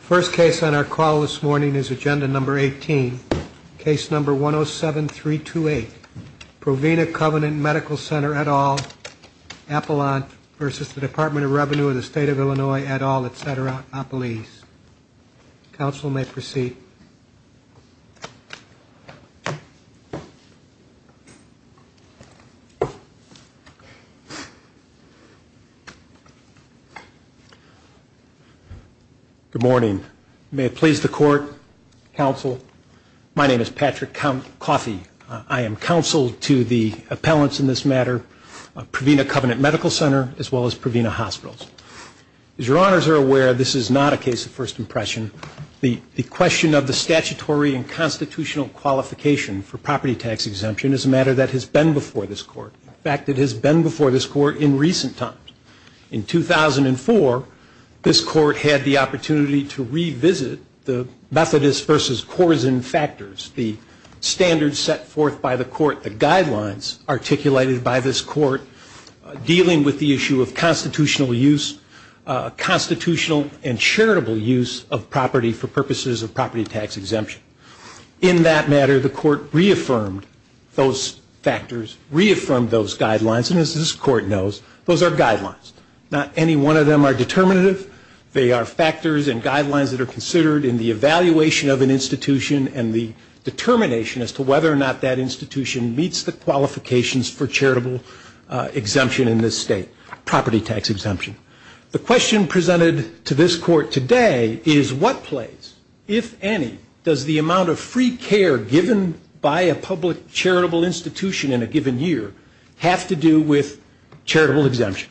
First case on our call this morning is agenda number 18, case number 107328, Provena Covenant Medical Center, et al., Appalant v. Department of Revenue of the State of Illinois, et al., Et Cetera, Appalese. Counsel may proceed. Good morning. May it please the Court, Counsel. My name is Patrick Coffey. I am Counsel to the Appalants in this matter, Provena Covenant Medical Center, as well as Provena Hospitals. As your Honors are aware, this is not a case of first impression. The question of the statutory and constitutional qualification for property tax exemption is a matter that has been before this Court. In fact, it has been before this Court in recent times. In 2004, this Court had the opportunity to revisit the Methodist v. Corzine factors, the standards set forth by the Court, the guidelines articulated by this Court, dealing with the issue of constitutional use, constitutional and charitable use of property for purposes of property tax exemption. In that matter, the Court reaffirmed those factors, reaffirmed those guidelines, and as this Court knows, those are guidelines. Not any one of them are determinative. They are factors and guidelines that are considered in the evaluation of an institution and the determination as to whether or not that institution meets the qualifications for charitable exemption in this State, property tax exemption. The question presented to this Court today is what place, if any, does the amount of free care given by a public charitable institution in a given year have to do with charitable exemption?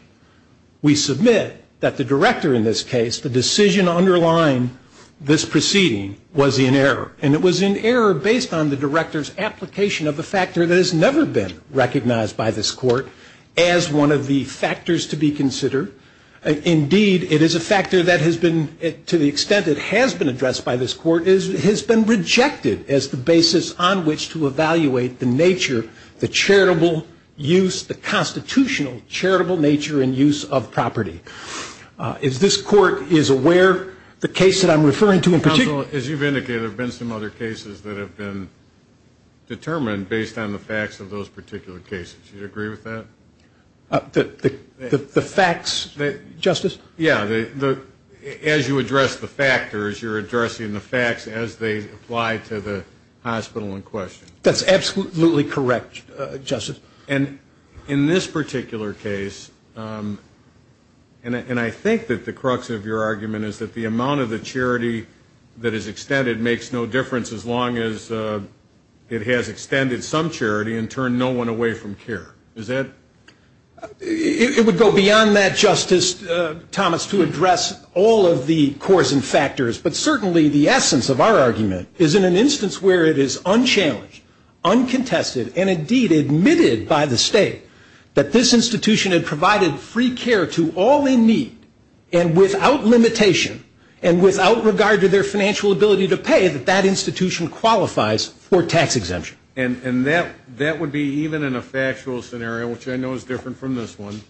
We submit that the director in this case, the decision underlying this proceeding, was in error. And it was in error based on the director's application of a factor that has never been recognized by this Court as one of the factors to be considered. Indeed, it is a factor that has been, to the extent it has been addressed by this Court, has been rejected as the basis on which to evaluate the nature, the charitable use, the constitutional charitable nature and use of property tax exemption. If this Court is aware, the case that I'm referring to in particular... Counsel, as you've indicated, there have been some other cases that have been determined based on the facts of those particular cases. Do you agree with that? The facts, Justice? Yeah, as you address the factors, you're addressing the facts as they apply to the hospital in question. That's absolutely correct, Justice. And in this particular case, and I think that the crux of your argument is that the amount of the charity that is extended makes no difference as long as it has extended some charity and turned no one away from care. Is that... It would go beyond that, Justice Thomas, to address all of the cores and factors. But certainly the essence of our argument is in an instance where it is unchallenged, uncontested, and indeed admitted that there is a need to address all of these factors. And it is unquestionably admitted by the State that this institution had provided free care to all in need, and without limitation, and without regard to their financial ability to pay, that that institution qualifies for tax exemption. And that would be even in a factual scenario, which I know is different from this one,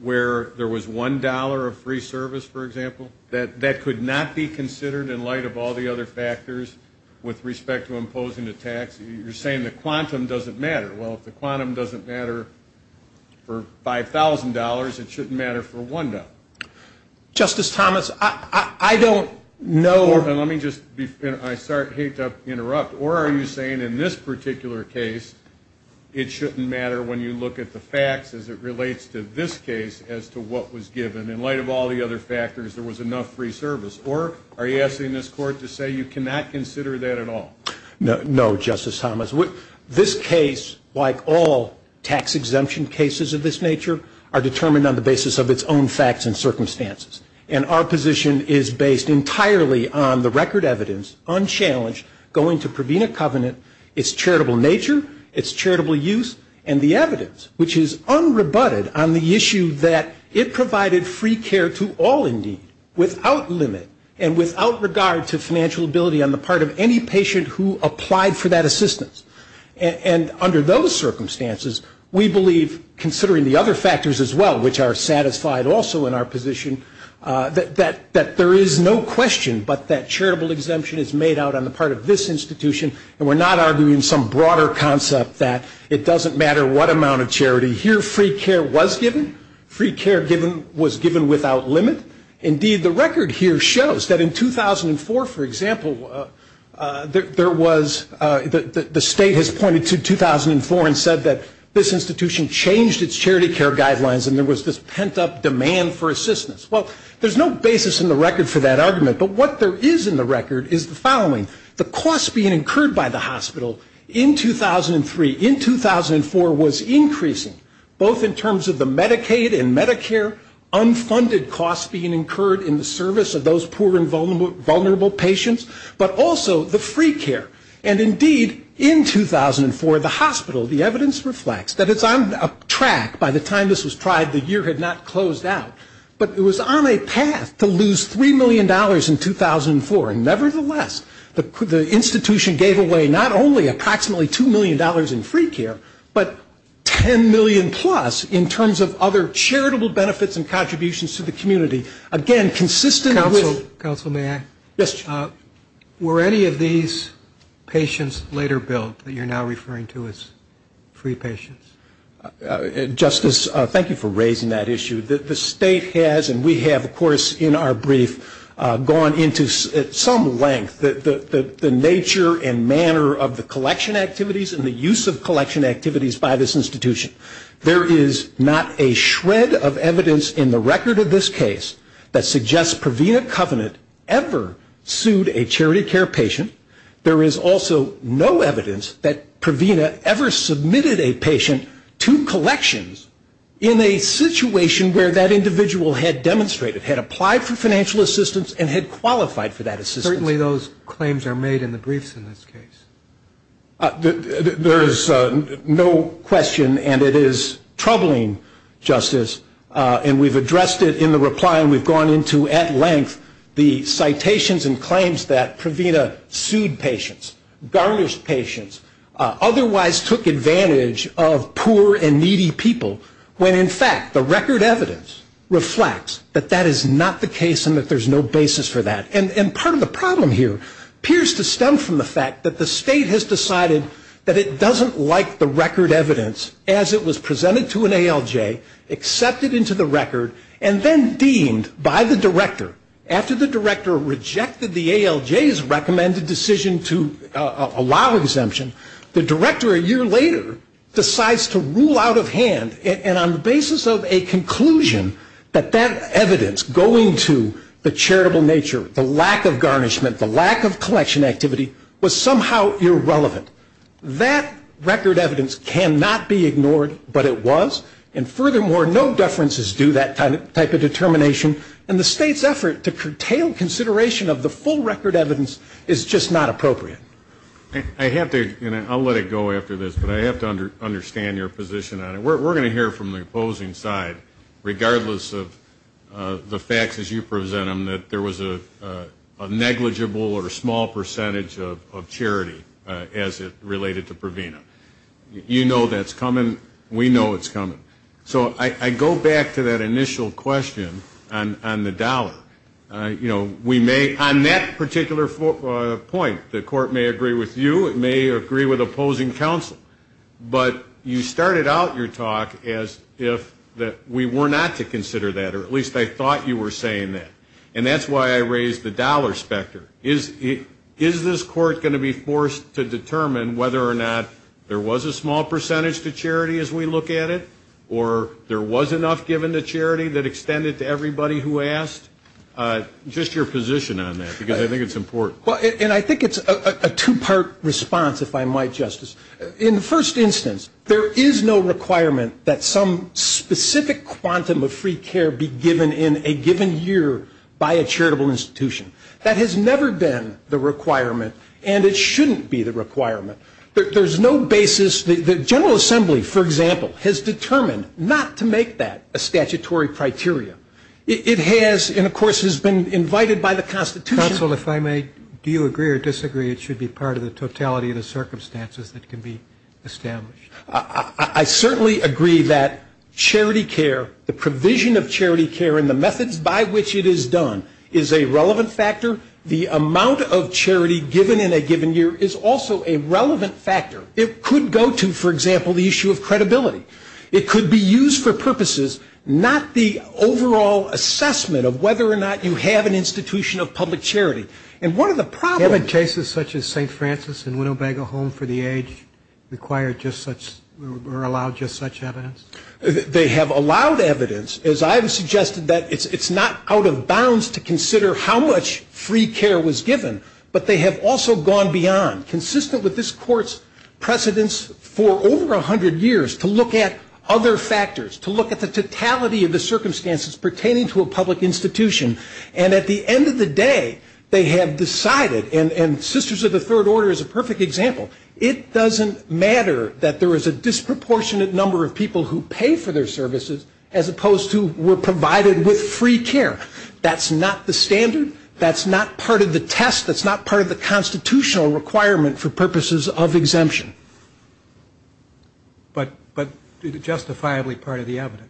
where there was $1 of free service, for example, that could not be considered in light of all the other factors with respect to imposing a tax. You're saying the quantum doesn't matter. Well, if the quantum doesn't matter for $5,000, it shouldn't matter for $1. Justice Thomas, I don't know... Or, and let me just, I hate to interrupt, or are you saying in this particular case it shouldn't matter when you look at the facts as it relates to this case as to what was given in light of all the other factors, there was enough free service? Or are you asking this Court to say you cannot consider that at all? No, Justice Thomas. This case, like all tax exemption cases of this nature, are determined on the basis of its own facts and circumstances. And our position is based entirely on the record evidence, unchallenged, going to Provena Covenant, its charitable nature, its charitable use, and the evidence, which is unrebutted on the issue that it provided free care to all in need, without limit, and without regard to their financial ability to pay. And without regard to financial ability on the part of any patient who applied for that assistance. And under those circumstances, we believe, considering the other factors as well, which are satisfied also in our position, that there is no question but that charitable exemption is made out on the part of this institution. And we're not arguing some broader concept that it doesn't matter what amount of charity. Here free care was given. Free care was given without limit. Indeed, the record here shows that in 2004, for example, there was, the State has pointed to 2004 and said that this institution changed its charity care guidelines and there was this pent up demand for assistance. Well, there's no basis in the record for that argument. But what there is in the record is the following. The cost being incurred by the hospital in 2003, in 2004, was increasing, both in terms of the Medicaid and Medicare, unfunded costs being incurred in the service of those poor and vulnerable patients, but also the free care. And indeed, in 2004, the hospital, the evidence reflects that it's on track, by the time this was tried, the year had not closed out. But it was on a path to lose $3 million in 2004. Nevertheless, the institution gave away not only approximately $2 million in free care, but $10 million plus in terms of other charitable benefits and contributions to the community. Again, consistent with... Counsel, may I? Were any of these patients later billed that you're now referring to as free patients? Justice, thank you for raising that issue. The state has, and we have, of course, in our brief, gone into at some length the nature and manner of the collection activities and the use of collection activities by this institution. There is not a shred of evidence in the record of this case that suggests Provena Covenant ever sued a charity care patient. There is also no evidence that Provena ever submitted a patient to collections in a situation where that individual had demonstrated, had applied for financial assistance, and had qualified for that assistance. Certainly those claims are made in the briefs in this case. There is no question, and it is troubling, Justice. And we've addressed it in the reply, and we've gone into at length the citations and claims that Provena sued patients, garnished patients, otherwise took advantage of poor and needy people, when in fact the record evidence reflects that that is not the case and that there's no basis for that. And part of the problem here appears to stem from the fact that the state has decided that it doesn't like the record evidence as it was presented to an ALJ, accepted into the record, and then deemed by the director, after the director rejected the ALJ's recommended decision to allow exemption, the director a year later decides to rule out of hand, and on the basis of a conclusion that that evidence going to the charitable nature, the lack of garnishment, the lack of collection activity, was somehow irrelevant. That record evidence cannot be ignored, but it was. And furthermore, no deferences do that type of determination, and the state's effort to curtail consideration of the full record evidence is just not appropriate. I have to, and I'll let it go after this, but I have to understand your position on it. We're going to hear from the opposing side, regardless of the facts as you present them, that there was a negligible or a small percentage of charity, as it related to Provena. You know that's coming. We know it's coming. So I go back to that initial question on the dollar. We may, on that particular point, the court may agree with you. It may agree with opposing counsel. But you started out your talk as if we were not to consider that, or at least I thought you were saying that. And that's why I raised the dollar specter. Is this court going to be forced to determine whether or not there was a small percentage to charity as we look at it, or there was enough given to charity that extended to everybody who asked? Just your position on that, because I think it's important. Well, and I think it's a two-part response, if I might, Justice. In the first instance, there is no requirement that some specific quantum of free care be given in a given year by a charitable institution. That has never been the requirement, and it shouldn't be the requirement. There's no basis. The General Assembly, for example, has determined not to make that a statutory criteria. It has, and of course has been invited by the Constitution. Counsel, if I may, do you agree or disagree it should be part of the totality of the circumstances that can be established? I certainly agree that charity care, the provision of charity care and the methods by which it is done is a relevant factor. The amount of charity given in a given year is also a relevant factor. It could go to, for example, the issue of credibility. It could be used for purposes, not the overall assessment of whether or not you have an institution of public charity. And what are the problems? Haven't cases such as St. Francis and Winnebago Home for the Aged required just such or allowed just such evidence? They have allowed evidence. As I have suggested, it's not out of bounds to consider how much free care was given, but they have also gone beyond. Consistent with this Court's precedence for over 100 years to look at other factors, to look at the totality of the circumstances pertaining to a public institution. And at the end of the day, they have decided, and Sisters of the Third Order is a perfect example, it doesn't matter that there is a disproportionate number of people who pay for their services, as opposed to were provided with free care. That's not the standard, that's not part of the test, that's not part of the constitutional requirement for purposes of exemption. But is it justifiably part of the evidence?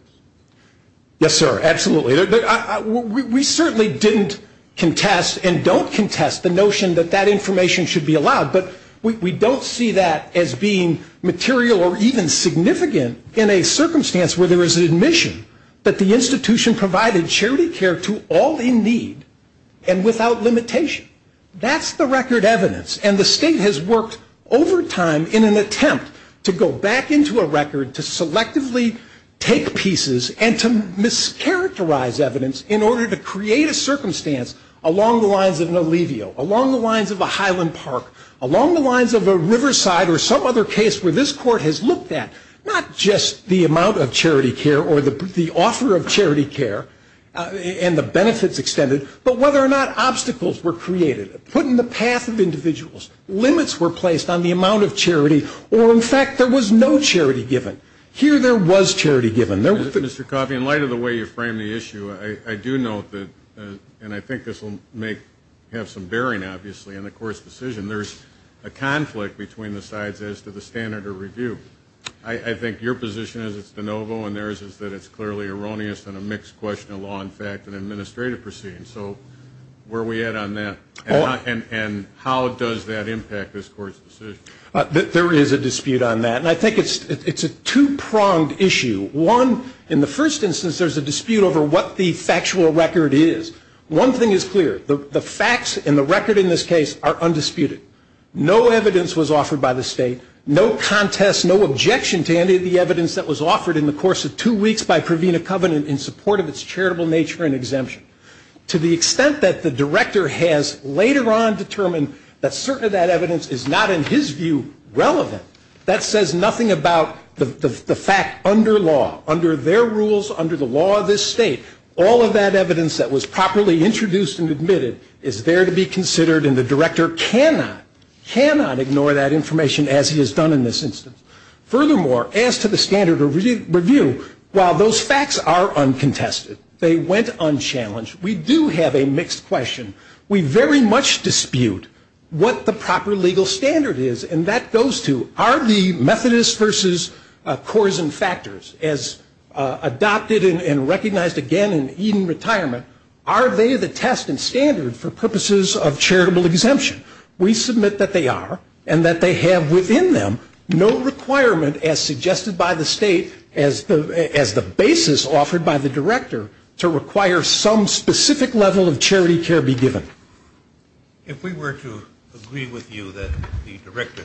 Yes, sir, absolutely. We certainly didn't contest and don't contest the notion that that information should be allowed, but we don't see that as being material or even significant in a circumstance where there is an admission that the institution provided charity care to all in need and without limitation. That's the record evidence, and the State has worked over time in an attempt to go back into a record, to selectively take pieces and to mischaracterize evidence in order to create a circumstance along the lines of an allevio, along the lines of a Highland Park, along the lines of a Riverside or some other case where this Court has looked at, not just the amount of charity care or the offer of charity care and the benefits extended, but whether or not obstacles were created, put in the path of individuals, limits were placed on the amount of charity, or in fact there was no charity given. Here there was charity given. Mr. Coffey, in light of the way you framed the issue, I do note that, and I think this will have some bearing obviously on the Court's decision, there's a conflict between the sides as to the standard of review. I think your position is it's de novo and theirs is that it's clearly erroneous and a mixed question of law and fact and administrative proceedings. So where are we at on that, and how does that impact this Court's decision? There is a dispute on that, and I think it's a two-pronged issue. One, in the first instance there's a dispute over what the factual record is. One thing is clear, the facts and the record in this case are undisputed. No evidence was offered by the State, no contest, no objection to any of the evidence that was offered in the course of two weeks by Provena Covenant in support of its charitable nature and exemption. To the extent that the Director has later on determined that certain of that evidence is not in his view relevant, that says nothing about the fact under law, under their rules, under the law of this State. All of that evidence that was properly introduced and admitted is there to be considered, and the Director cannot, cannot ignore that information as he has done in this instance. Furthermore, as to the standard of review, while those facts are uncontested, they went unchallenged, we do have a mixed question. We very much dispute what the proper legal standard is, and that goes to, are the Methodist versus Corazon factors as adopted and recognized again in Eden retirement, are they the test and standard for purposes of charitable exemption? We submit that they are, and that they have within them no requirement as suggested by the State, as the basis offered by the Director to require some specific level of charity care be given. If we were to agree with you that the Director,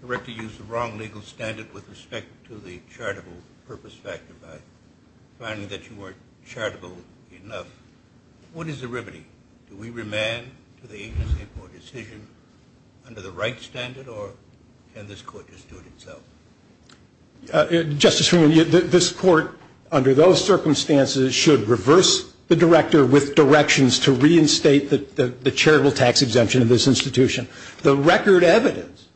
the Director used the wrong legal standard with respect to the charitable purpose factor by finding that you weren't charitable enough, what is the remedy? Do we remand to the agency for a decision under the right standard, or can this Court just do it itself? Justice Freeman, this Court, under those circumstances, should reverse the Director with directions to reinstate the charitable tax exemption in this institution. The record evidence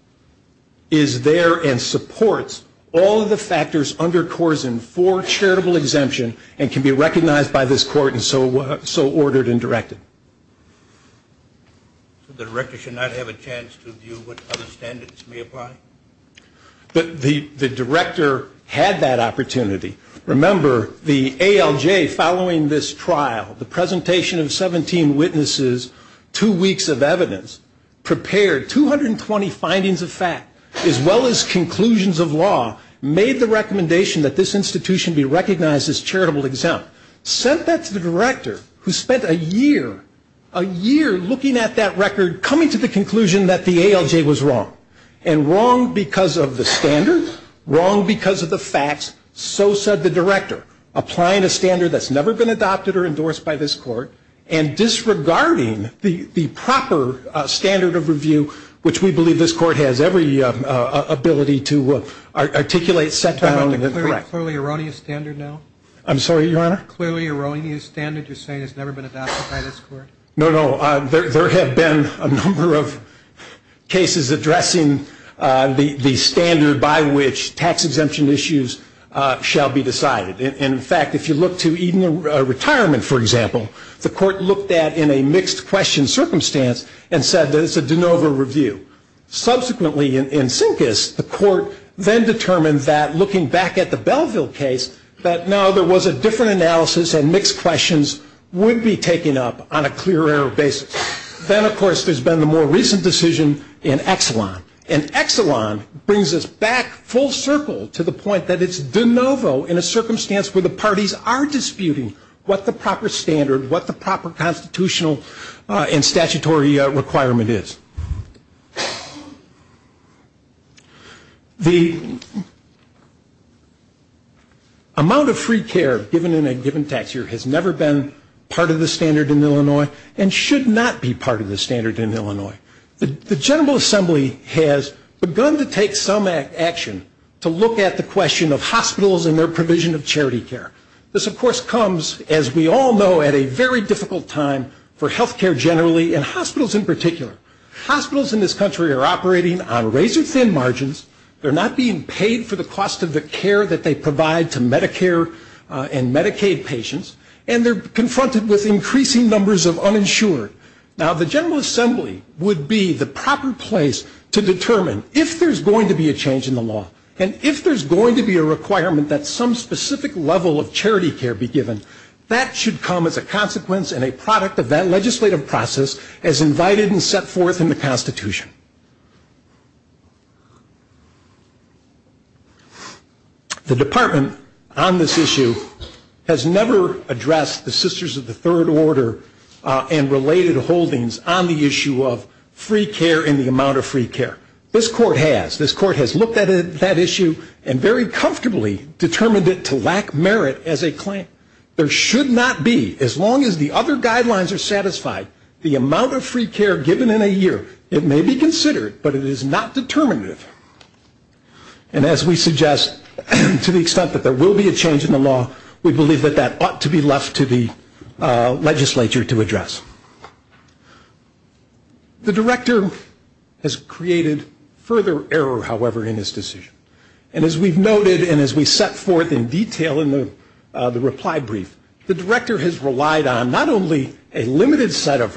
is there and supports all of the factors under Corazon for charitable exemption and can be recognized by this Court and so ordered and directed. The Director should not have a chance to view what other standards may apply? But the Director had that opportunity. Remember, the ALJ following this trial, the presentation of 17 witnesses, two weeks of evidence, prepared 220 findings of fact, as well as conclusions of law, made the recommendation that this institution be recognized as charitable exempt, sent that to the Director, who spent a year, a year looking at that record, coming to the conclusion that the ALJ was wrong, and wrong because of the standard, wrong because of the facts, so said the Director, applying a standard that's never been adopted or endorsed by this Court, and disregarding the proper standard of review, which we believe this Court has every ability to articulate, clearly erroneous standard now? Clearly erroneous standard you're saying has never been adopted by this Court? No, no, there have been a number of cases addressing the standard by which tax exemption issues shall be decided. In fact, if you look to retirement, for example, the Court looked at in a mixed question circumstance and said that it's a de novo review. Subsequently, in Sinkis, the Court then determined that looking back at the Belleville case, that no, there was a different analysis and mixed questions would be taken up on a clear error basis. Then, of course, there's been the more recent decision in Exelon, and Exelon brings us back full circle to the point that it's de novo in a circumstance where the parties are disputing what the proper standard, what the proper constitutional and statutory requirement is. The amount of free care given in a given tax year has never been part of the standard in Illinois and should not be part of the standard in Illinois. The General Assembly has begun to take some action to look at the question of hospitals and their provision of charity care. This, of course, comes, as we all know, at a very difficult time for health care generally and hospitals in particular. Hospitals in this country are operating on razor-thin margins. They're not being paid for the cost of the care that they provide to Medicare and Medicaid patients, and they're confronted with increasing numbers of uninsured. Now, the General Assembly would be the proper place to determine if there's going to be a change in the law and if there's going to be a requirement that some specific level of charity care be given. That should come as a consequence and a product of that legislative process as invited and set forth in the Constitution. The Department on this issue has never addressed the Sisters of the Third Order and related holdings on the issue of free care and the amount of free care. This Court has. This Court has looked at that issue and very comfortably determined it to lack merit as a claim. There should not be, as long as the other guidelines are satisfied, the amount of free care given in a year. It may be considered, but it is not determinative. And as we suggest, to the extent that there will be a change in the law, we believe that that ought to be left to the legislature to address. The Director has created further error, however, in his decision. And as we've noted and as we set forth in detail in the reply brief, the Director has relied on not only a limited set of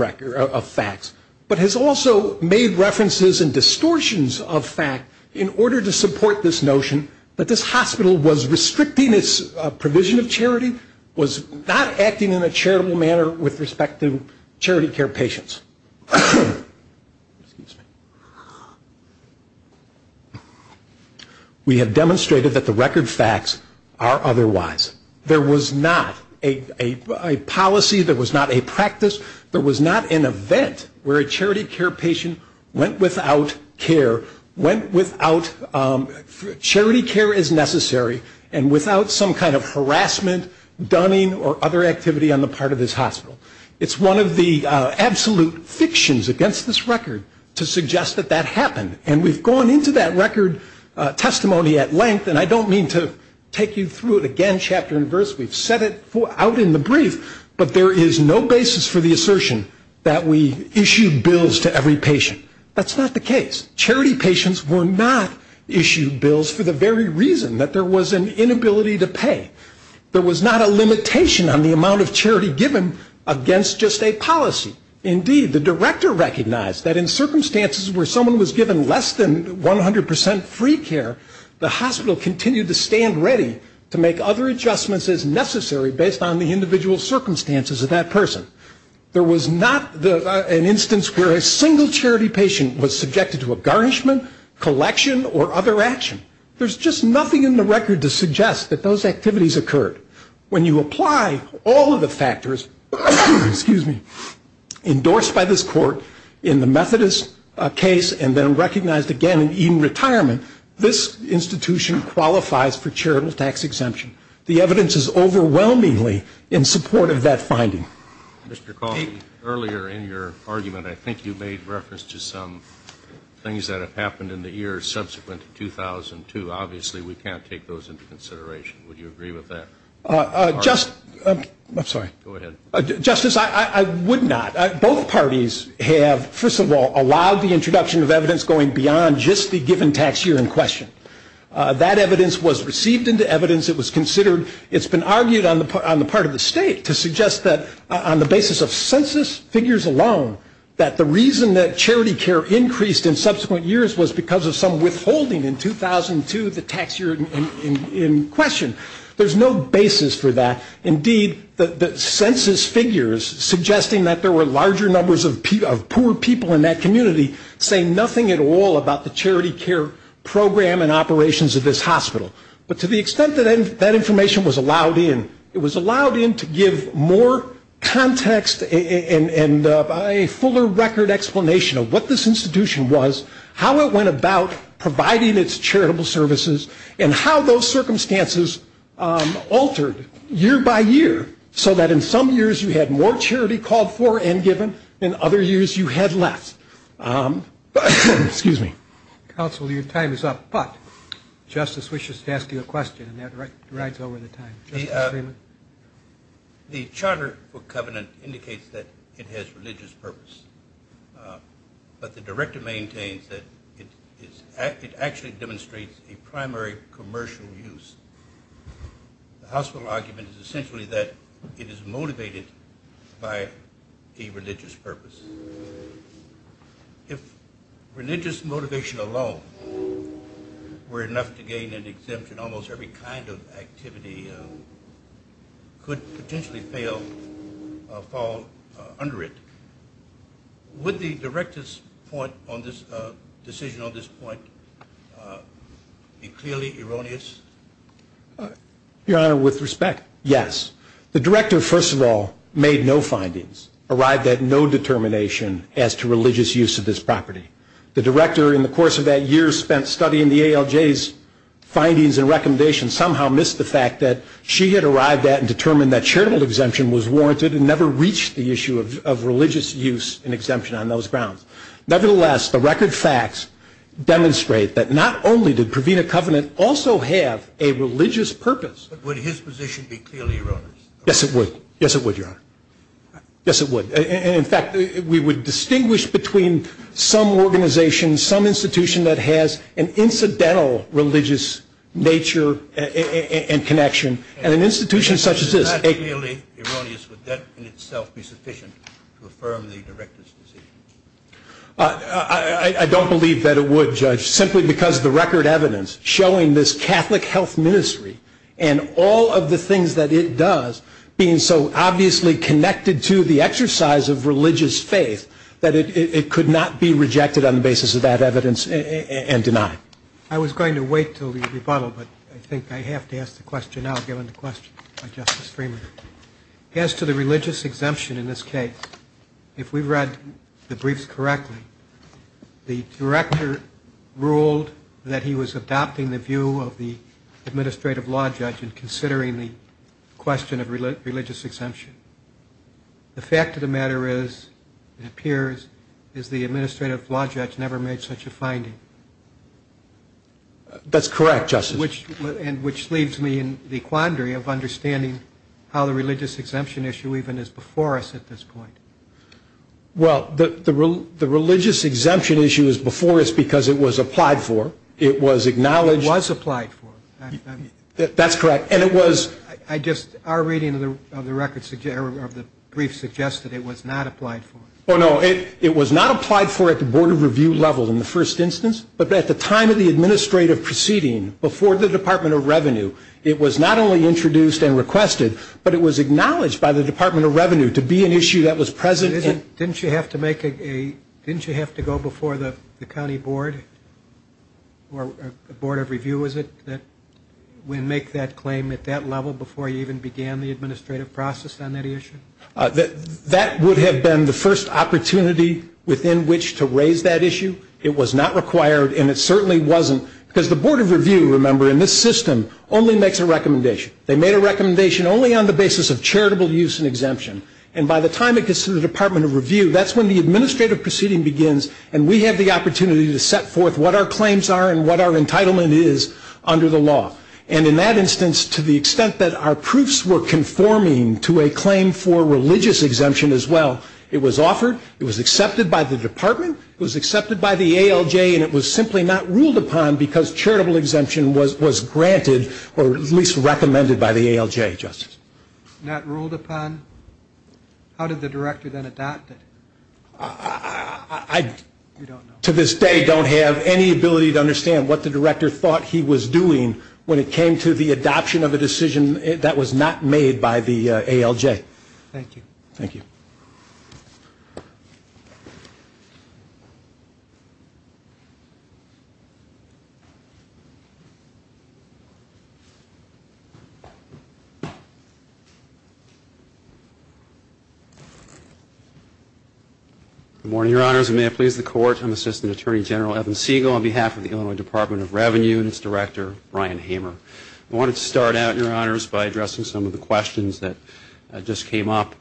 facts, but has also made references and distortions of fact in order to support this notion that this hospital was restricting its provision of charity, was not acting in a charitable manner with respect to charity care patients. We have demonstrated that the record facts are otherwise. There was not a policy, there was not a practice, there was not an event where a charity care patient went without care, went without charity care as necessary and without some kind of harassment, dunning or other activity on the part of this hospital. It's one of the absolute fictions against this record to suggest that that happened. And we've gone into that record testimony at length, and I don't mean to take you through it again chapter and verse. We've set it out in the brief, but there is no basis for the assertion that we issue bills to every patient. That's not the case. Charity patients were not issued bills for the very reason that there was an inability to pay. There was not a limitation on the amount of charity given against just a policy. Indeed, the director recognized that in circumstances where someone was given less than 100 percent free care, the hospital continued to stand ready to make other adjustments as necessary based on the individual circumstances of that person. There was not an instance where a single charity patient was subjected to a garnishment, collection, or other action. There's just nothing in the record to suggest that those activities occurred. When you apply all of the factors endorsed by this court in the Methodist case and then recognized again in retirement, this institution qualifies for charitable tax exemption. The evidence is overwhelmingly in support of that finding. Mr. Cawley, earlier in your argument, I think you made reference to some things that have happened in the years subsequent to 2002. Obviously, we can't take those into consideration. Would you agree with that? Justice, I would not. Both parties have, first of all, allowed the introduction of evidence going beyond just the given tax year in question. That evidence was received into evidence. It was considered. It's been argued on the part of the state to suggest that on the basis of census figures alone, that the reason that charity care increased in subsequent years was because of some withholding in 2002, the tax year in question. There's no basis for that. Indeed, the census figures suggesting that there were larger numbers of poor people in that community say nothing at all about the charity care program and operations of this hospital. But to the extent that that information was allowed in, it was allowed in to give more context and a fuller record explanation of what this institution was, how it went about providing its charitable services, and how those circumstances altered year by year, so that in some years you had more charity called for and given, in other years you had less. Excuse me. Counsel, your time is up. But Justice wishes to ask you a question, and that rides over the time. The charter book covenant indicates that it has religious purpose. But the director maintains that it actually demonstrates a primary commercial use. The hospital argument is essentially that it is motivated by a religious purpose. If religious motivation alone were enough to gain an exemption, then almost every kind of activity could potentially fall under it. Would the director's decision on this point be clearly erroneous? Your Honor, with respect, yes. The director, first of all, made no findings, arrived at no determination as to religious use of this property. The director, in the course of that year, spent studying the ALJ's findings and recommendations, somehow missed the fact that she had arrived at and determined that charitable exemption was warranted and never reached the issue of religious use and exemption on those grounds. Nevertheless, the record facts demonstrate that not only did Provena Covenant also have a religious purpose. But would his position be clearly erroneous? Yes, it would. Yes, it would, Your Honor. Yes, it would. In fact, we would distinguish between some organization, some institution that has an incidental religious nature and connection, and an institution such as this. If it is not clearly erroneous, would that in itself be sufficient to affirm the director's decision? I don't believe that it would, Judge, simply because the record evidence showing this Catholic health ministry and all of the things that it does being so obviously connected to the exercise of religious faith, that it could not be rejected on the basis of that evidence and denied. I was going to wait until the rebuttal, but I think I have to ask the question now given the question by Justice Freeman. As to the religious exemption in this case, if we read the briefs correctly, the director ruled that he was adopting the view of the administrative law judge in considering the question of religious exemption. The fact of the matter is, it appears, is the administrative law judge never made such a finding. That's correct, Justice. Which leaves me in the quandary of understanding how the religious exemption issue even is before us at this point. Well, the religious exemption issue is before us because it was applied for. It was acknowledged. It was applied for. That's correct. And it was. Our reading of the brief suggested it was not applied for. Oh, no. It was not applied for at the Board of Review level in the first instance, but at the time of the administrative proceeding before the Department of Revenue, it was not only introduced and requested, but it was acknowledged by the Department of Revenue to be an issue that was present. Didn't you have to go before the county board or the Board of Review, is it, that would make that claim at that level before you even began the administrative process on that issue? That would have been the first opportunity within which to raise that issue. It was not required, and it certainly wasn't, because the Board of Review, remember, in this system only makes a recommendation. They made a recommendation only on the basis of charitable use and exemption. And by the time it gets to the Department of Review, that's when the administrative proceeding begins and we have the opportunity to set forth what our claims are and what our entitlement is under the law. And in that instance, to the extent that our proofs were conforming to a claim for religious exemption as well, it was offered, it was accepted by the department, it was accepted by the ALJ, and it was simply not ruled upon because charitable exemption was granted or at least recommended by the ALJ, Justice. Not ruled upon? How did the director then adopt it? I, to this day, don't have any ability to understand what the director thought he was doing when it came to the adoption of a decision that was not made by the ALJ. Thank you. Good morning, Your Honors, and may it please the Court, I'm Assistant Attorney General Evan Siegel on behalf of the Illinois Department of Revenue and its director, Brian Hamer. I wanted to start out, Your Honors, by addressing some of the questions that just came up.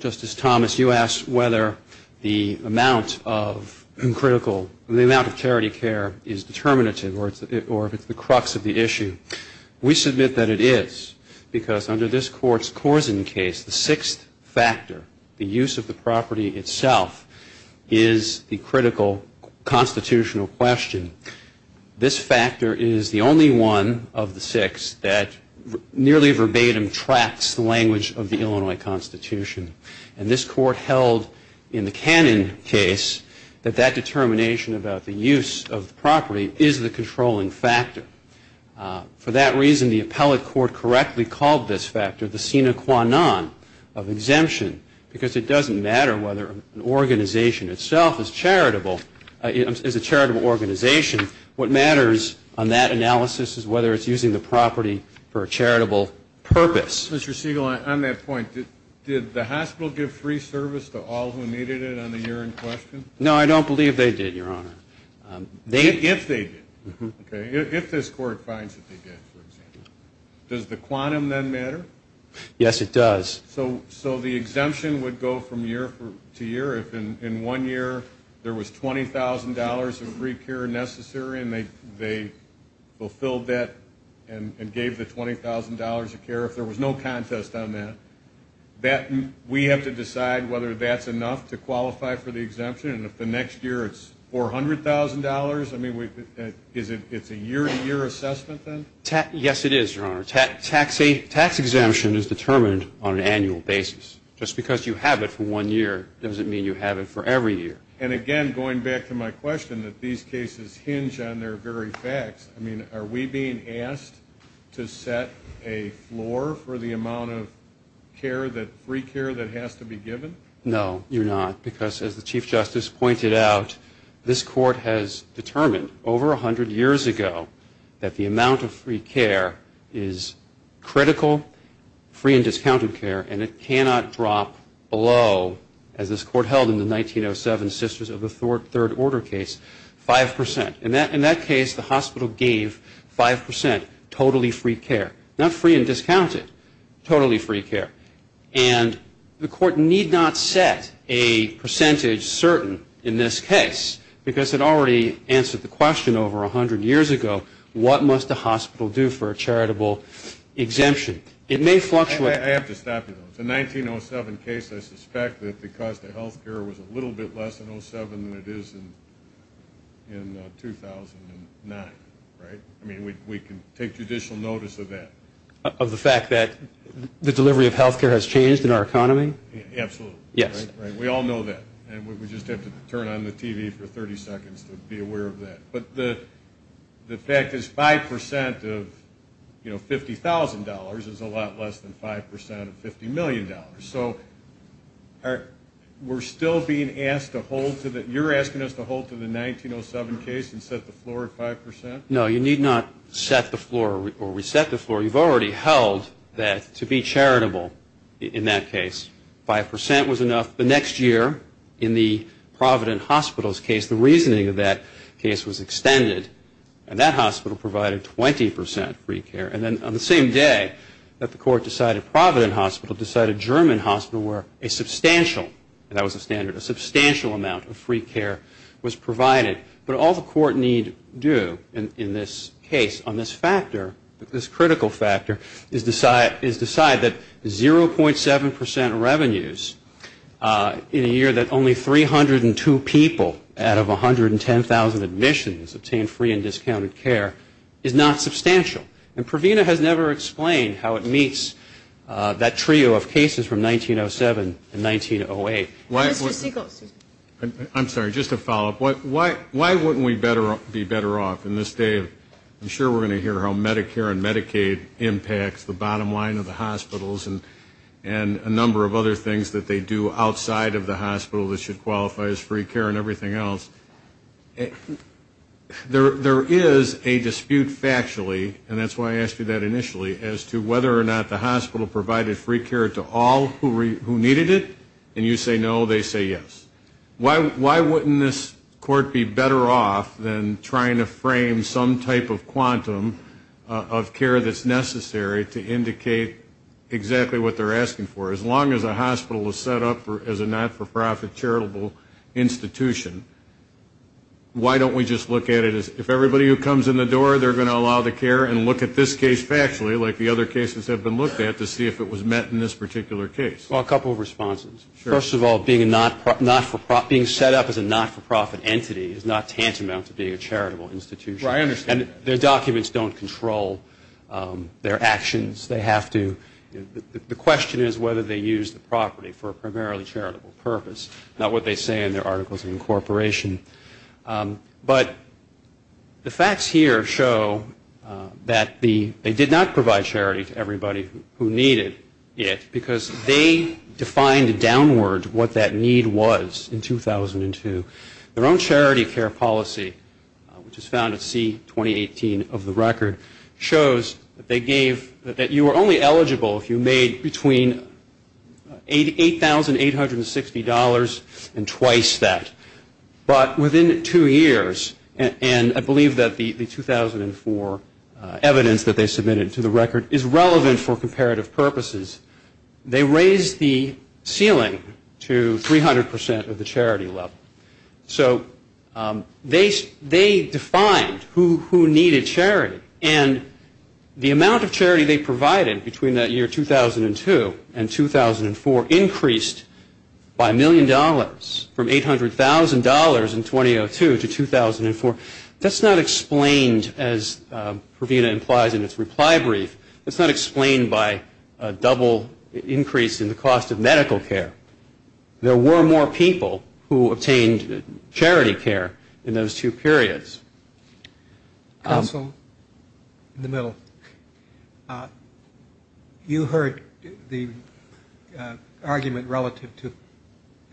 Justice Thomas, you asked whether the amount of critical, the amount of charity care is determinative or if it's the crux of the issue. We submit that it is, because under this Court's Korsen case, the sixth factor, the use of the property itself, is the critical constitutional question. This factor is the only one of the six that nearly verbatim tracks the language of the Illinois Constitution. And this Court held in the Cannon case that that determination about the use of the property is the controlling factor. For that reason, the appellate court correctly called this factor the sine qua non of exemption because it doesn't matter whether an organization itself is charitable, is a charitable organization. What matters on that analysis is whether it's using the property for a charitable purpose. Mr. Siegel, on that point, did the hospital give free service to all who needed it on the year in question? No, I don't believe they did, Your Honor. If they did, okay? If this Court finds that they did, for example. Does the quantum then matter? Yes, it does. So the exemption would go from year to year. If in one year there was $20,000 of free care necessary and they fulfilled that and gave the $20,000 of care, if there was no contest on that, we have to decide whether that's enough to qualify for the exemption. And if the next year it's $400,000, I mean, it's a year-to-year assessment then? Yes, it is, Your Honor. Tax exemption is determined on an annual basis. Just because you have it for one year doesn't mean you have it for every year. And again, going back to my question that these cases hinge on their very facts, I mean, are we being asked to set a floor for the amount of care, free care that has to be given? No, you're not, because as the Chief Justice pointed out, this Court has determined over 100 years ago that the amount of free care is critical, free and discounted care, and it cannot drop below, as this Court held in the 1907 Sisters of the Third Order case, 5%. In that case, the hospital gave 5%, totally free care. Not free and discounted, totally free care. And the Court need not set a percentage certain in this case, because it already answered the question over 100 years ago, what must a hospital do for a charitable exemption? It may fluctuate. I have to stop you, though. It's a 1907 case. I suspect that because the health care was a little bit less than 07 than it is in 2009, right? I mean, we can take judicial notice of that. Of the fact that the delivery of health care has changed in our economy? Absolutely. Yes. We all know that, and we just have to turn on the TV for 30 seconds to be aware of that. But the fact is 5% of, you know, $50,000 is a lot less than 5% of $50 million. So we're still being asked to hold to the 1907 case and set the floor at 5%? No, you need not set the floor or reset the floor. You've already held that to be charitable in that case. 5% was enough. The next year in the Provident Hospital's case, the reasoning of that case was extended, and that hospital provided 20% free care. And then on the same day that the Court decided Provident Hospital decided German Hospital, where a substantial, and that was a standard, a substantial amount of free care was provided. But all the Court need do in this case on this factor, this critical factor, is decide that 0.7% revenues in a year that only 302 people out of 110,000 admissions obtained free and discounted care is not substantial. And Provina has never explained how it meets that trio of cases from 1907 and 1908. I'm sorry, just a follow-up. Why wouldn't we be better off in this day? I'm sure we're going to hear how Medicare and Medicaid impacts the bottom line of the hospitals and a number of other things that they do outside of the hospital that should qualify as free care and everything else. There is a dispute factually, and that's why I asked you that initially, as to whether or not the hospital provided free care to all who needed it. And you say no, they say yes. Why wouldn't this Court be better off than trying to frame some type of quantum of care that's necessary to indicate exactly what they're asking for? As long as a hospital is set up as a not-for-profit charitable institution, why don't we just look at it as if everybody who comes in the door, they're going to allow the care and look at this case factually, like the other cases have been looked at, to see if it was met in this particular case? Well, a couple of responses. First of all, being set up as a not-for-profit entity is not tantamount to being a charitable institution. And their documents don't control their actions. The question is whether they use the property for a primarily charitable purpose, not what they say in their articles of incorporation. But the facts here show that they did not provide charity to everybody who needed it because they defined downward what that need was in 2002. Their own charity care policy, which is found at C-2018 of the record, shows that they gave that you were only eligible if you made between $8,860 and twice that. But within two years, and I believe that the 2004 evidence that they submitted to the record is relevant for comparative purposes, they raised the ceiling to 300% of the charity level. So they defined who needed charity. And the amount of charity they provided between that year, 2002, and 2004, increased by a million dollars from $800,000 in 2002 to 2004. That's not explained, as Pravina implies in its reply brief, that's not explained by a double increase in the cost of medical care. There were more people who obtained charity care in those two periods. Counsel, in the middle. You heard the argument relative to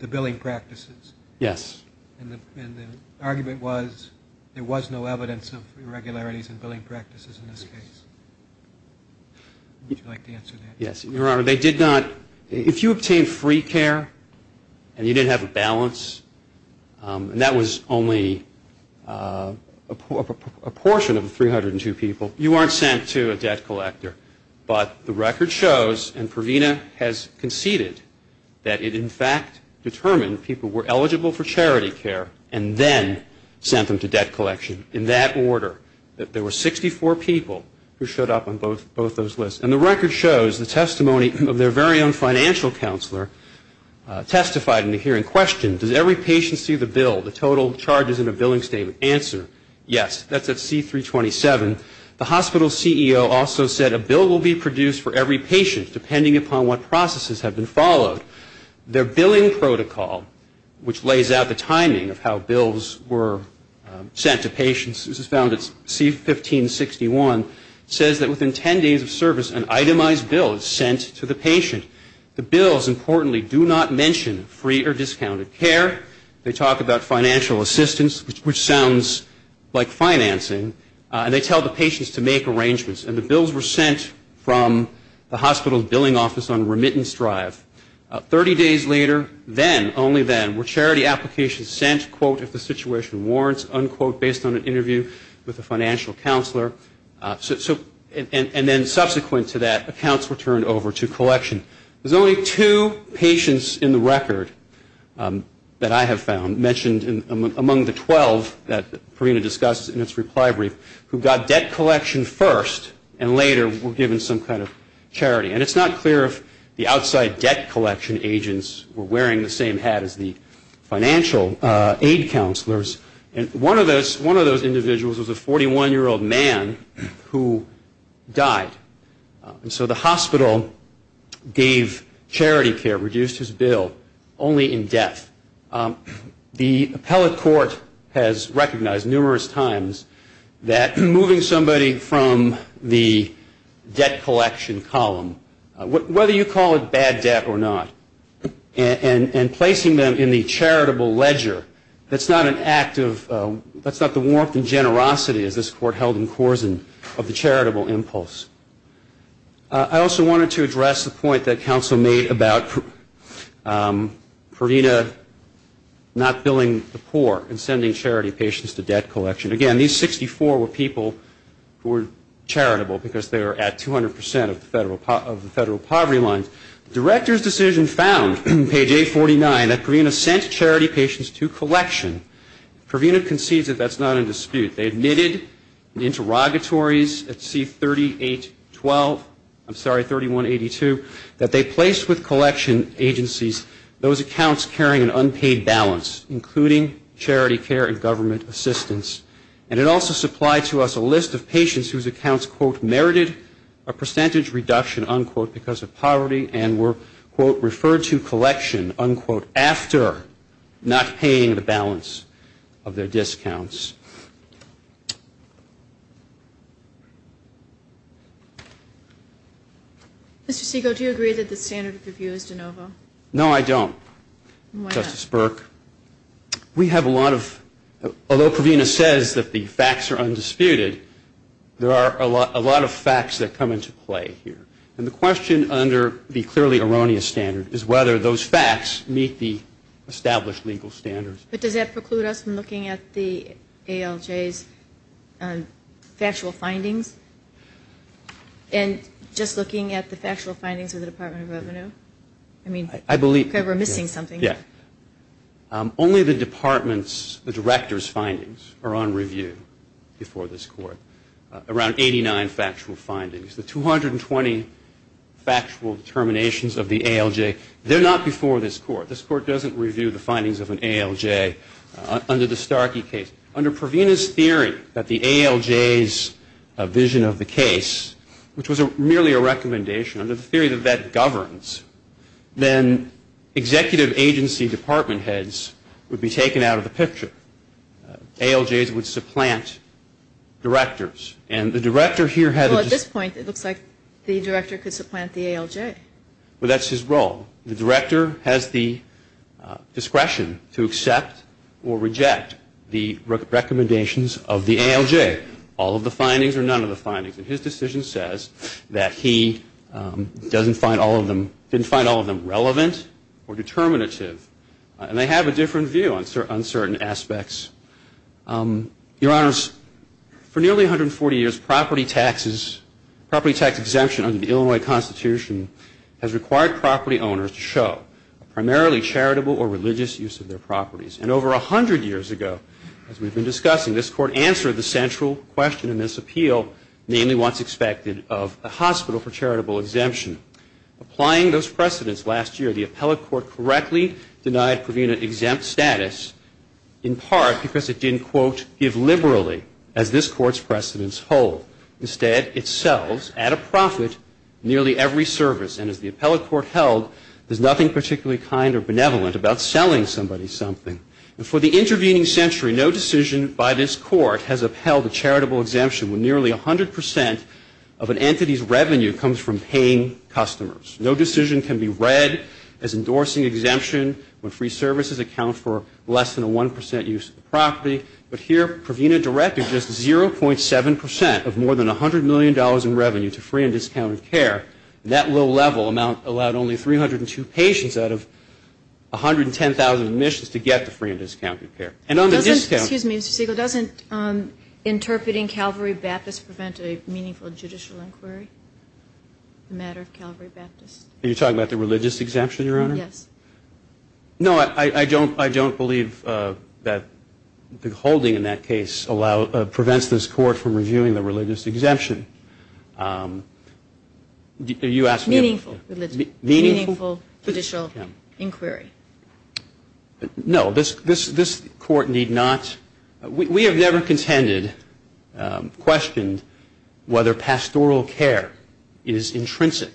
the billing practices. Yes. And the argument was there was no evidence of irregularities in billing practices in this case. Would you like to answer that? Yes. Your Honor, if you obtained free care and you didn't have a balance, and that was only a portion of the 302 people, you aren't sent to a debt collector. But the record shows, and Pravina has conceded, that it, in fact, determined people were eligible for charity care and then sent them to debt collection in that order, that there were 64 people who showed up on both those lists. And the record shows the testimony of their very own financial counselor testified in the hearing. Question, does every patient see the bill, the total charges in a billing statement? Answer, yes. That's at C-327. The hospital CEO also said a bill will be produced for every patient, depending upon what processes have been followed. Their billing protocol, which lays out the timing of how bills were sent to patients, this is found at C-1561, says that within 10 days of service, an itemized bill is sent to the patient. The bills, importantly, do not mention free or discounted care. They talk about financial assistance, which sounds like financing, and they tell the patients to make arrangements. And the bills were sent from the hospital's billing office on remittance drive. Thirty days later, then, only then, were charity applications sent, quote, if the situation warrants, unquote, based on an interview with a financial counselor. And then subsequent to that, accounts were turned over to collection. There's only two patients in the record that I have found mentioned among the 12 that Pravina discussed in its reply brief who got debt collection first and later were given some kind of charity. And it's not clear if the outside debt collection agents were wearing the same hat as the financial aid counselors. One of those individuals was a 41-year-old man who died. And so the hospital gave charity care, reduced his bill, only in death. The appellate court has recognized numerous times that moving somebody from the debt collection column, whether you call it bad debt or not, and placing them in the charitable ledger, that's not an act of, that's not the warmth and generosity, as this court held in Corzine, of the charitable impulse. I also wanted to address the point that counsel made about Pravina not billing the poor and sending charity patients to debt collection. Again, these 64 were people who were charitable because they were at 200 percent of the federal poverty lines. The director's decision found, page 849, that Pravina sent charity patients to collection. Pravina concedes that that's not in dispute. They admitted in interrogatories at C3812, I'm sorry, 3182, that they placed with collection agencies those accounts carrying an unpaid balance, including charity care and government assistance. And it also supplied to us a list of patients whose accounts, quote, merited a percentage reduction, unquote, because of poverty and were, quote, referred to collection, unquote, after not paying the balance of their discounts. Mr. Segal, do you agree that the standard of review is de novo? No, I don't. Why not? Justice Burke, we have a lot of, although Pravina says that the facts are undisputed, there are a lot of facts that come into play here. And the question under the clearly erroneous standard is whether those facts meet the established legal standards. But does that preclude us from looking at the ALJ's factual findings? And just looking at the factual findings of the Department of Revenue? I mean, we're missing something here. Yeah. Only the department's, the director's findings are on review before this Court, around 89 factual findings. The 220 factual determinations of the ALJ, they're not before this Court. This Court doesn't review the findings of an ALJ under the Starkey case. Under Pravina's theory that the ALJ's vision of the case, which was merely a recommendation, under the theory that that governs, then executive agency department heads would be taken out of the picture. ALJs would supplant directors. Well, at this point, it looks like the director could supplant the ALJ. Well, that's his role. The director has the discretion to accept or reject the recommendations of the ALJ. All of the findings or none of the findings. And his decision says that he didn't find all of them relevant or determinative. And they have a different view on certain aspects. Your Honors, for nearly 140 years, property taxes, property tax exemption under the Illinois Constitution has required property owners to show primarily charitable or religious use of their properties. And over 100 years ago, as we've been discussing, this Court answered the central question in this appeal, namely what's expected of a hospital for charitable exemption. Applying those precedents last year, the appellate court correctly denied Pravina exempt status, in part because it didn't, quote, give liberally, as this Court's precedents hold. Instead, it sells at a profit nearly every service. And as the appellate court held, there's nothing particularly kind or benevolent about selling somebody something. And for the intervening century, no decision by this Court has upheld a charitable exemption when nearly 100% of an entity's revenue comes from paying customers. No decision can be read as endorsing exemption when free services account for less than a 1% use of the property. But here, Pravina directed just 0.7% of more than $100 million in revenue to free and discounted care. And that low level amount allowed only 302 patients out of 110,000 admissions to get the free and discounted care. And on the discount ---- Excuse me, Mr. Siegel. Doesn't interpreting Calvary Baptist prevent a meaningful judicial inquiry, the matter of Calvary Baptist? Are you talking about the religious exemption, Your Honor? Yes. No, I don't believe that the holding in that case prevents this Court from reviewing the religious exemption. Meaningful judicial inquiry. No, this Court need not. We have never contended, questioned, whether pastoral care is intrinsic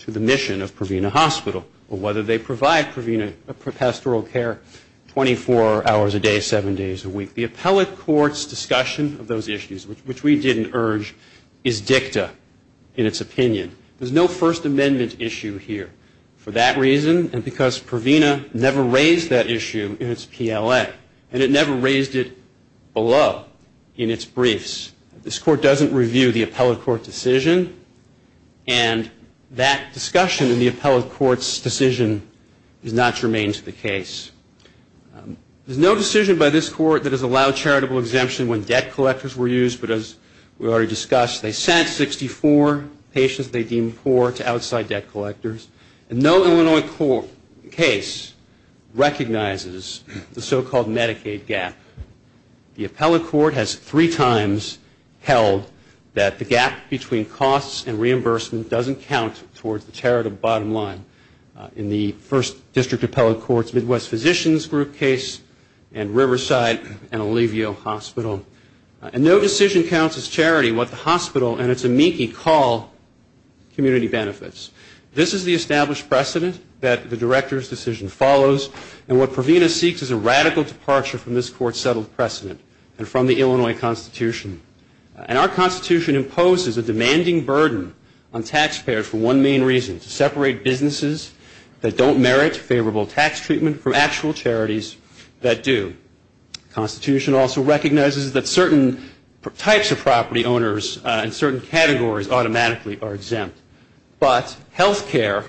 to the mission of Pravina Hospital or whether they provide pastoral care 24 hours a day, seven days a week. The appellate court's discussion of those issues, which we didn't urge, is dicta in its opinion. There's no First Amendment issue here. For that reason and because Pravina never raised that issue in its PLA. And it never raised it below in its briefs. This Court doesn't review the appellate court decision. And that discussion in the appellate court's decision is not germane to the case. There's no decision by this Court that has allowed charitable exemption when debt collectors were used. But as we already discussed, they sent 64 patients they deemed poor to outside debt collectors. And no Illinois court case recognizes the so-called Medicaid gap. The appellate court has three times held that the gap between costs and reimbursement doesn't count towards the charitable bottom line. In the First District Appellate Court's Midwest Physicians Group case and Riverside and Olivio Hospital. And no decision counts as charity what the hospital and its amici call community benefits. This is the established precedent that the director's decision follows. And what Pravina seeks is a radical departure from this Court's settled precedent and from the Illinois Constitution. And our Constitution imposes a demanding burden on taxpayers for one main reason, to separate businesses that don't merit favorable tax treatment from actual charities that do. The Constitution also recognizes that certain types of property owners and certain categories automatically are exempt. But health care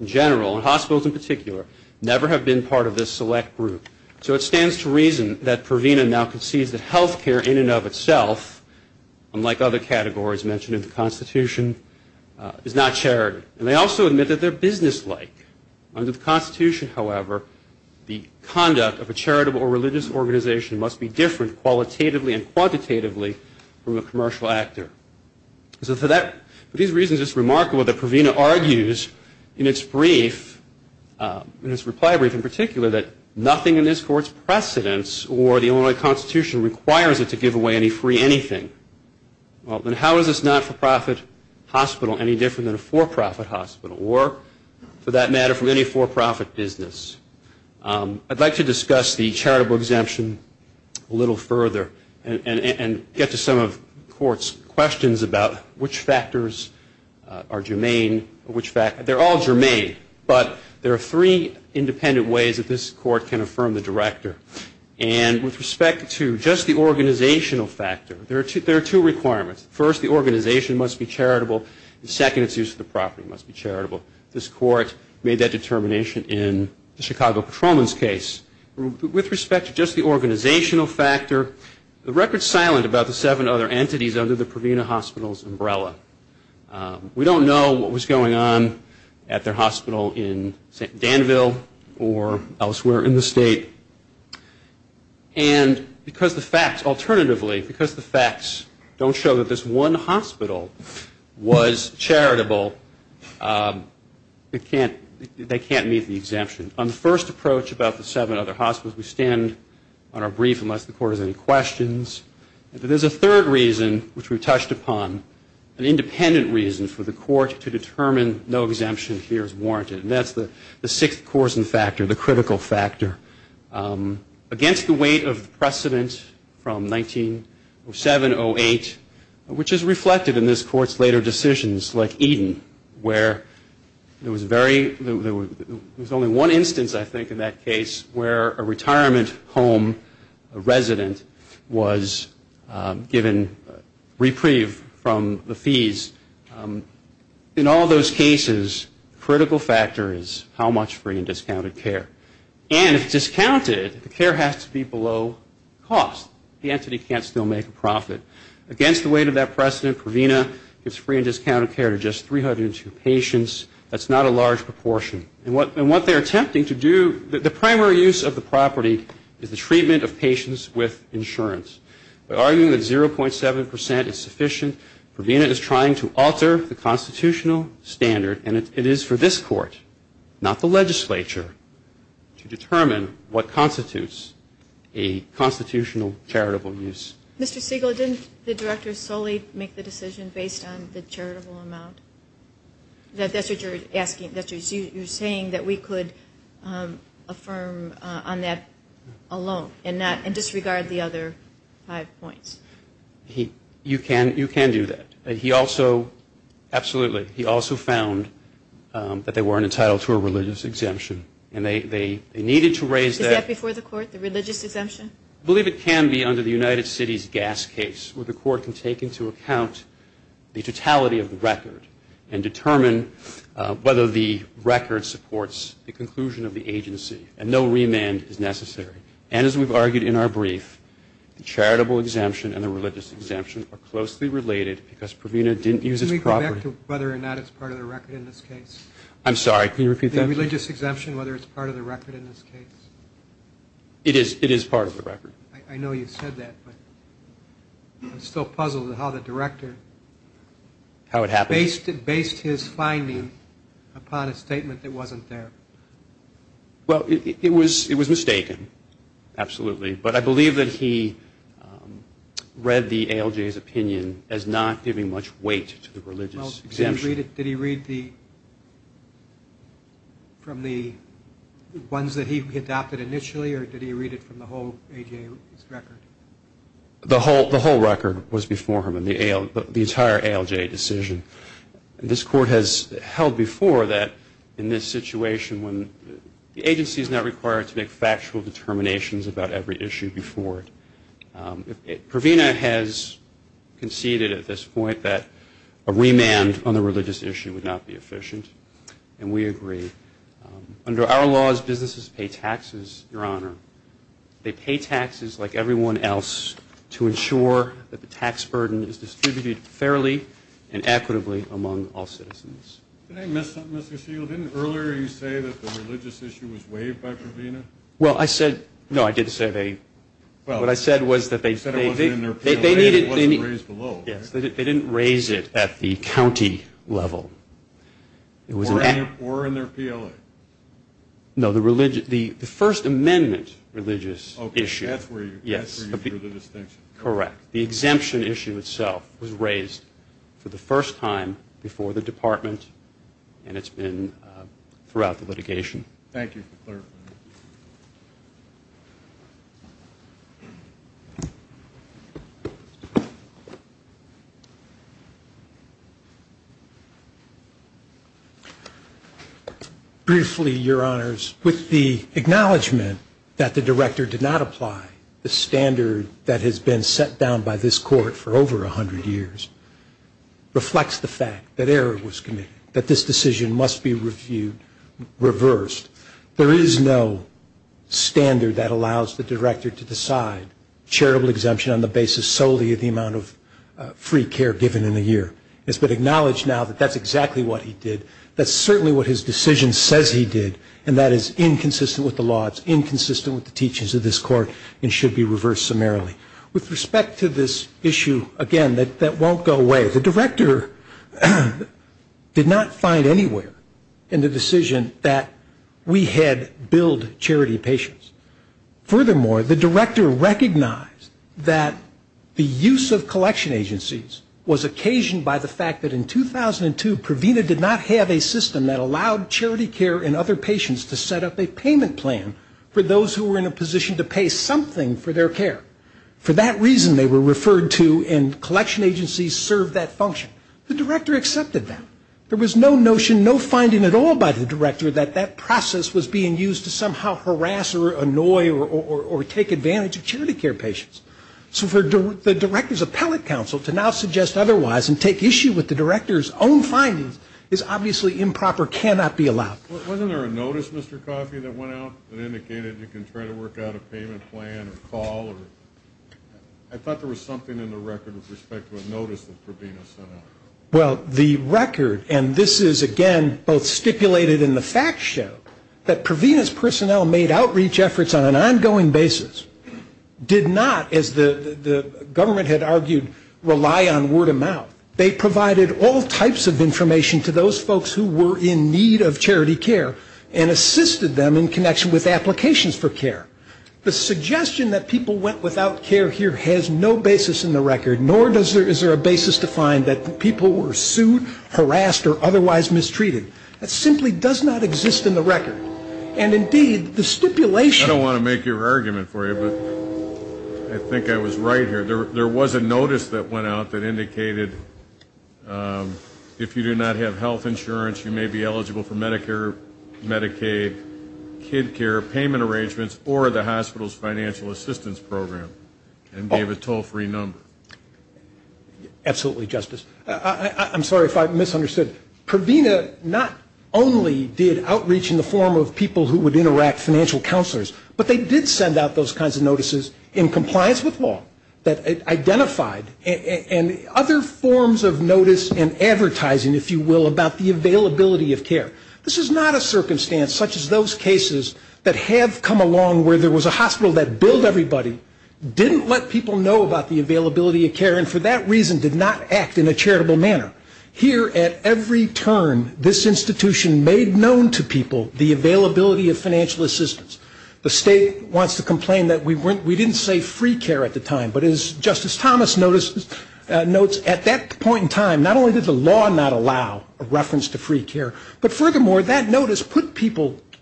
in general, and hospitals in particular, never have been part of this select group. So it stands to reason that Pravina now concedes that health care in and of itself, unlike other categories mentioned in the Constitution, is not charity. And they also admit that they're businesslike. Under the Constitution, however, the conduct of a charitable or religious organization must be different qualitatively and quantitatively from a commercial actor. So for these reasons, it's remarkable that Pravina argues in its reply brief in particular that nothing in this Court's precedents or the Illinois Constitution requires it to give away any free anything. Well, then how is this not-for-profit hospital any different than a for-profit hospital? Or, for that matter, from any for-profit business? I'd like to discuss the charitable exemption a little further and get to some of the Court's questions about which factors are germane. They're all germane, but there are three independent ways that this Court can affirm the director. And with respect to just the organizational factor, there are two requirements. First, the organization must be charitable. And second, its use of the property must be charitable. This Court made that determination in the Chicago Patrolman's case. With respect to just the organizational factor, the record's silent about the seven other entities under the Pravina Hospital's umbrella. We don't know what was going on at their hospital in Danville or elsewhere in the state. And because the facts, alternatively, because the facts don't show that this one hospital was charitable, they can't meet the exemption. On the first approach about the seven other hospitals, we stand on our brief unless the Court has any questions. There's a third reason, which we've touched upon, an independent reason for the Court to determine no exemption here is warranted. And that's the sixth coarsen factor, the critical factor. Against the weight of precedent from 1907-08, which is reflected in this Court's later decisions like Eden, where there was only one instance, I think, in that case, where a retirement home resident was given reprieve from the fees. In all those cases, critical factor is how much free and discounted care. And if discounted, the care has to be below cost. The entity can't still make a profit. Against the weight of that precedent, Pravina gives free and discounted care to just 302 patients. That's not a large proportion. And what they're attempting to do, the primary use of the property is the treatment of patients with insurance. By arguing that 0.7 percent is sufficient, Pravina is trying to alter the constitutional standard, and it is for this Court, not the legislature, to determine what constitutes a constitutional charitable use. Mr. Siegel, didn't the Director solely make the decision based on the charitable amount? That's what you're asking. You're saying that we could affirm on that alone and disregard the other five points. You can do that. But he also, absolutely, he also found that they weren't entitled to a religious exemption. And they needed to raise that. Is that before the Court, the religious exemption? I believe it can be under the United Cities gas case, where the Court can take into account the totality of the record and determine whether the record supports the conclusion of the agency. And no remand is necessary. And as we've argued in our brief, the charitable exemption and the religious exemption are closely related because Pravina didn't use its property. Can we go back to whether or not it's part of the record in this case? I'm sorry, can you repeat that? The religious exemption, whether it's part of the record in this case? It is part of the record. I know you said that, but I'm still puzzled at how the director based his finding upon a statement that wasn't there. Well, it was mistaken, absolutely. But I believe that he read the ALJ's opinion as not giving much weight to the religious exemption. Did he read from the ones that he adopted initially, or did he read it from the whole ALJ's record? The whole record was before him, the entire ALJ decision. This Court has held before that in this situation, the agency is not required to make factual determinations about every issue before it. Pravina has conceded at this point that a remand on the religious issue would not be efficient, and we agree. Under our laws, businesses pay taxes, Your Honor. They pay taxes like everyone else to ensure that the tax burden is distributed fairly and equitably among all citizens. Did I miss something, Mr. Shields? Didn't earlier you say that the religious issue was waived by Pravina? Well, I said – no, I did say they – what I said was that they – You said it wasn't in their PLA and it wasn't raised below. Yes, they didn't raise it at the county level. Or in their PLA. No, the first amendment religious issue. Okay, that's where you drew the distinction. Correct. The exemption issue itself was raised for the first time before the department, and it's been throughout the litigation. Thank you for clarifying. Briefly, Your Honors, with the acknowledgement that the director did not apply, the standard that has been set down by this court for over 100 years reflects the fact that error was committed, that this decision must be reviewed, reversed. There is no standard that allows the director to decide charitable exemption on the basis solely of the amount of free care given in a year. It's been acknowledged now that that's exactly what he did. That's certainly what his decision says he did, and that is inconsistent with the laws, inconsistent with the teachings of this court, and should be reversed summarily. With respect to this issue, again, that won't go away. The director did not find anywhere in the decision that we had billed charity patients. Furthermore, the director recognized that the use of collection agencies was occasioned by the fact that in 2002, Provena did not have a system that allowed charity care and other patients to set up a payment plan for those who were in a position to pay something for their care. For that reason, they were referred to, and collection agencies served that function. The director accepted that. There was no notion, no finding at all by the director that that process was being used to somehow harass or annoy or take advantage of charity care patients. So for the director's appellate counsel to now suggest otherwise and take issue with the director's own findings is obviously improper, cannot be allowed. Wasn't there a notice, Mr. Coffey, that went out that indicated you can try to work out a payment plan or call? I thought there was something in the record with respect to a notice that Provena sent out. Well, the record, and this is, again, both stipulated in the facts show, that Provena's personnel made outreach efforts on an ongoing basis, did not, as the government had argued, rely on word of mouth. They provided all types of information to those folks who were in need of charity care and assisted them in connection with applications for care. The suggestion that people went without care here has no basis in the record, nor is there a basis to find that people were sued, harassed, or otherwise mistreated. That simply does not exist in the record. And, indeed, the stipulation of the record... I don't want to make your argument for you, but I think I was right here. There was a notice that went out that indicated if you do not have health insurance, you may be eligible for Medicare, Medicaid, kid care, payment arrangements, or the hospital's financial assistance program, and gave a toll-free number. Absolutely, Justice. I'm sorry if I misunderstood. Provena not only did outreach in the form of people who would interact, financial counselors, but they did send out those kinds of notices in compliance with law that identified and other forms of notice and advertising, if you will, about the availability of care. This is not a circumstance such as those cases that have come along where there was a hospital that billed everybody, didn't let people know about the availability of care, and for that reason did not act in a charitable manner. Here, at every turn, this institution made known to people the availability of financial assistance. The state wants to complain that we didn't say free care at the time, but as Justice Thomas notes, at that point in time, not only did the law not allow a reference to free care, but furthermore, that notice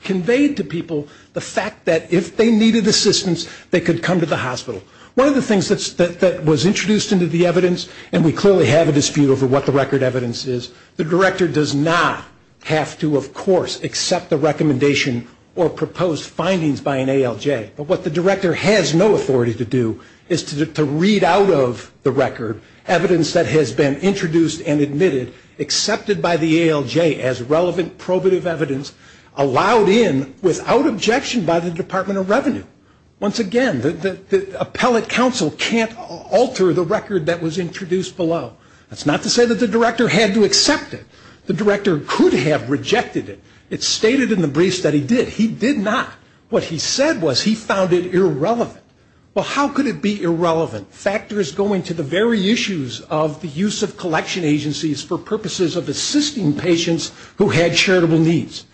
conveyed to people the fact that if they needed assistance, they could come to the hospital. One of the things that was introduced into the evidence, and we clearly have a dispute over what the record evidence is, the director does not have to, of course, accept the recommendation or proposed findings by an ALJ. But what the director has no authority to do is to read out of the record evidence that has been introduced and admitted, accepted by the ALJ as relevant probative evidence, Once again, the appellate counsel can't alter the record that was introduced below. That's not to say that the director had to accept it. The director could have rejected it. It's stated in the briefs that he did. He did not. What he said was he found it irrelevant. Well, how could it be irrelevant, factors going to the very issues of the use of collection agencies for purposes of assisting patients who had charitable needs?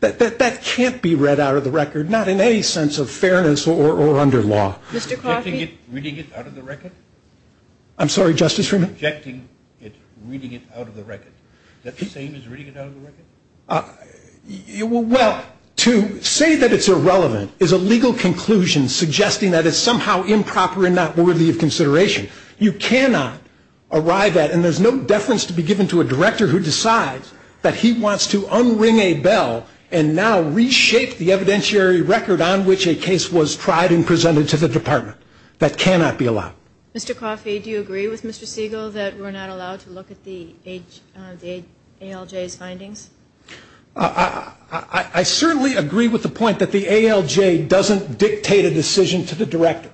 That can't be read out of the record, not in any sense of fairness or under law. Mr. Coffey? Rejecting it, reading it out of the record? I'm sorry, Justice Freeman? Rejecting it, reading it out of the record. Is that the same as reading it out of the record? Well, to say that it's irrelevant is a legal conclusion suggesting that it's somehow improper and not worthy of consideration. You cannot arrive at, and there's no deference to be given to a director who decides that he wants to unring a bell and now reshape the evidentiary record on which a case was tried and presented to the department. That cannot be allowed. Mr. Coffey, do you agree with Mr. Siegel that we're not allowed to look at the ALJ's findings? I certainly agree with the point that the ALJ doesn't dictate a decision to the director.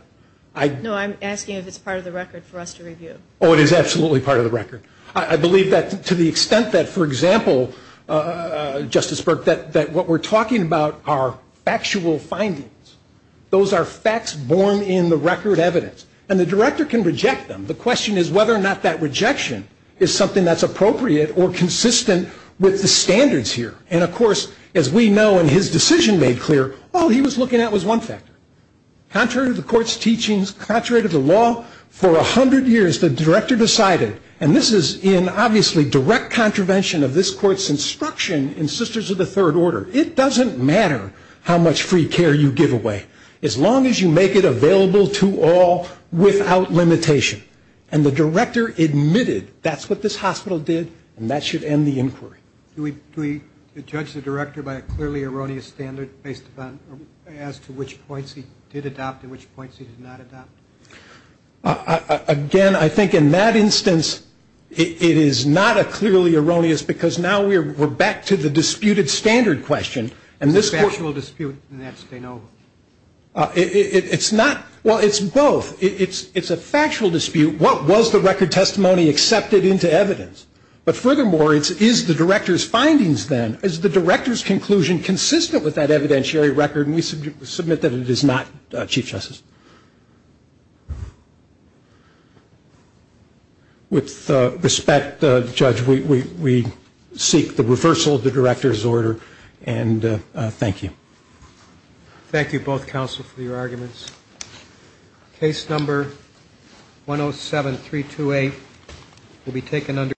No, I'm asking if it's part of the record for us to review. Oh, it is absolutely part of the record. I believe that to the extent that, for example, Justice Burke, that what we're talking about are factual findings. Those are facts born in the record evidence. And the director can reject them. The question is whether or not that rejection is something that's appropriate or consistent with the standards here. And, of course, as we know and his decision made clear, all he was looking at was one factor. Contrary to the court's teachings, contrary to the law, for 100 years the director decided, and this is in obviously direct contravention of this court's instruction in Sisters of the Third Order, it doesn't matter how much free care you give away, as long as you make it available to all without limitation. And the director admitted that's what this hospital did, and that should end the inquiry. Do we judge the director by a clearly erroneous standard as to which points he did adopt and which points he did not adopt? Again, I think in that instance it is not a clearly erroneous, because now we're back to the disputed standard question. It's a factual dispute. It's not. Well, it's both. It's a factual dispute. What was the record testimony accepted into evidence? But furthermore, is the director's findings then, is the director's conclusion consistent with that evidentiary record? Can we submit that it is not, Chief Justice? With respect, Judge, we seek the reversal of the director's order, and thank you. Thank you, both counsel, for your arguments. Case number 107328 will be taken under review.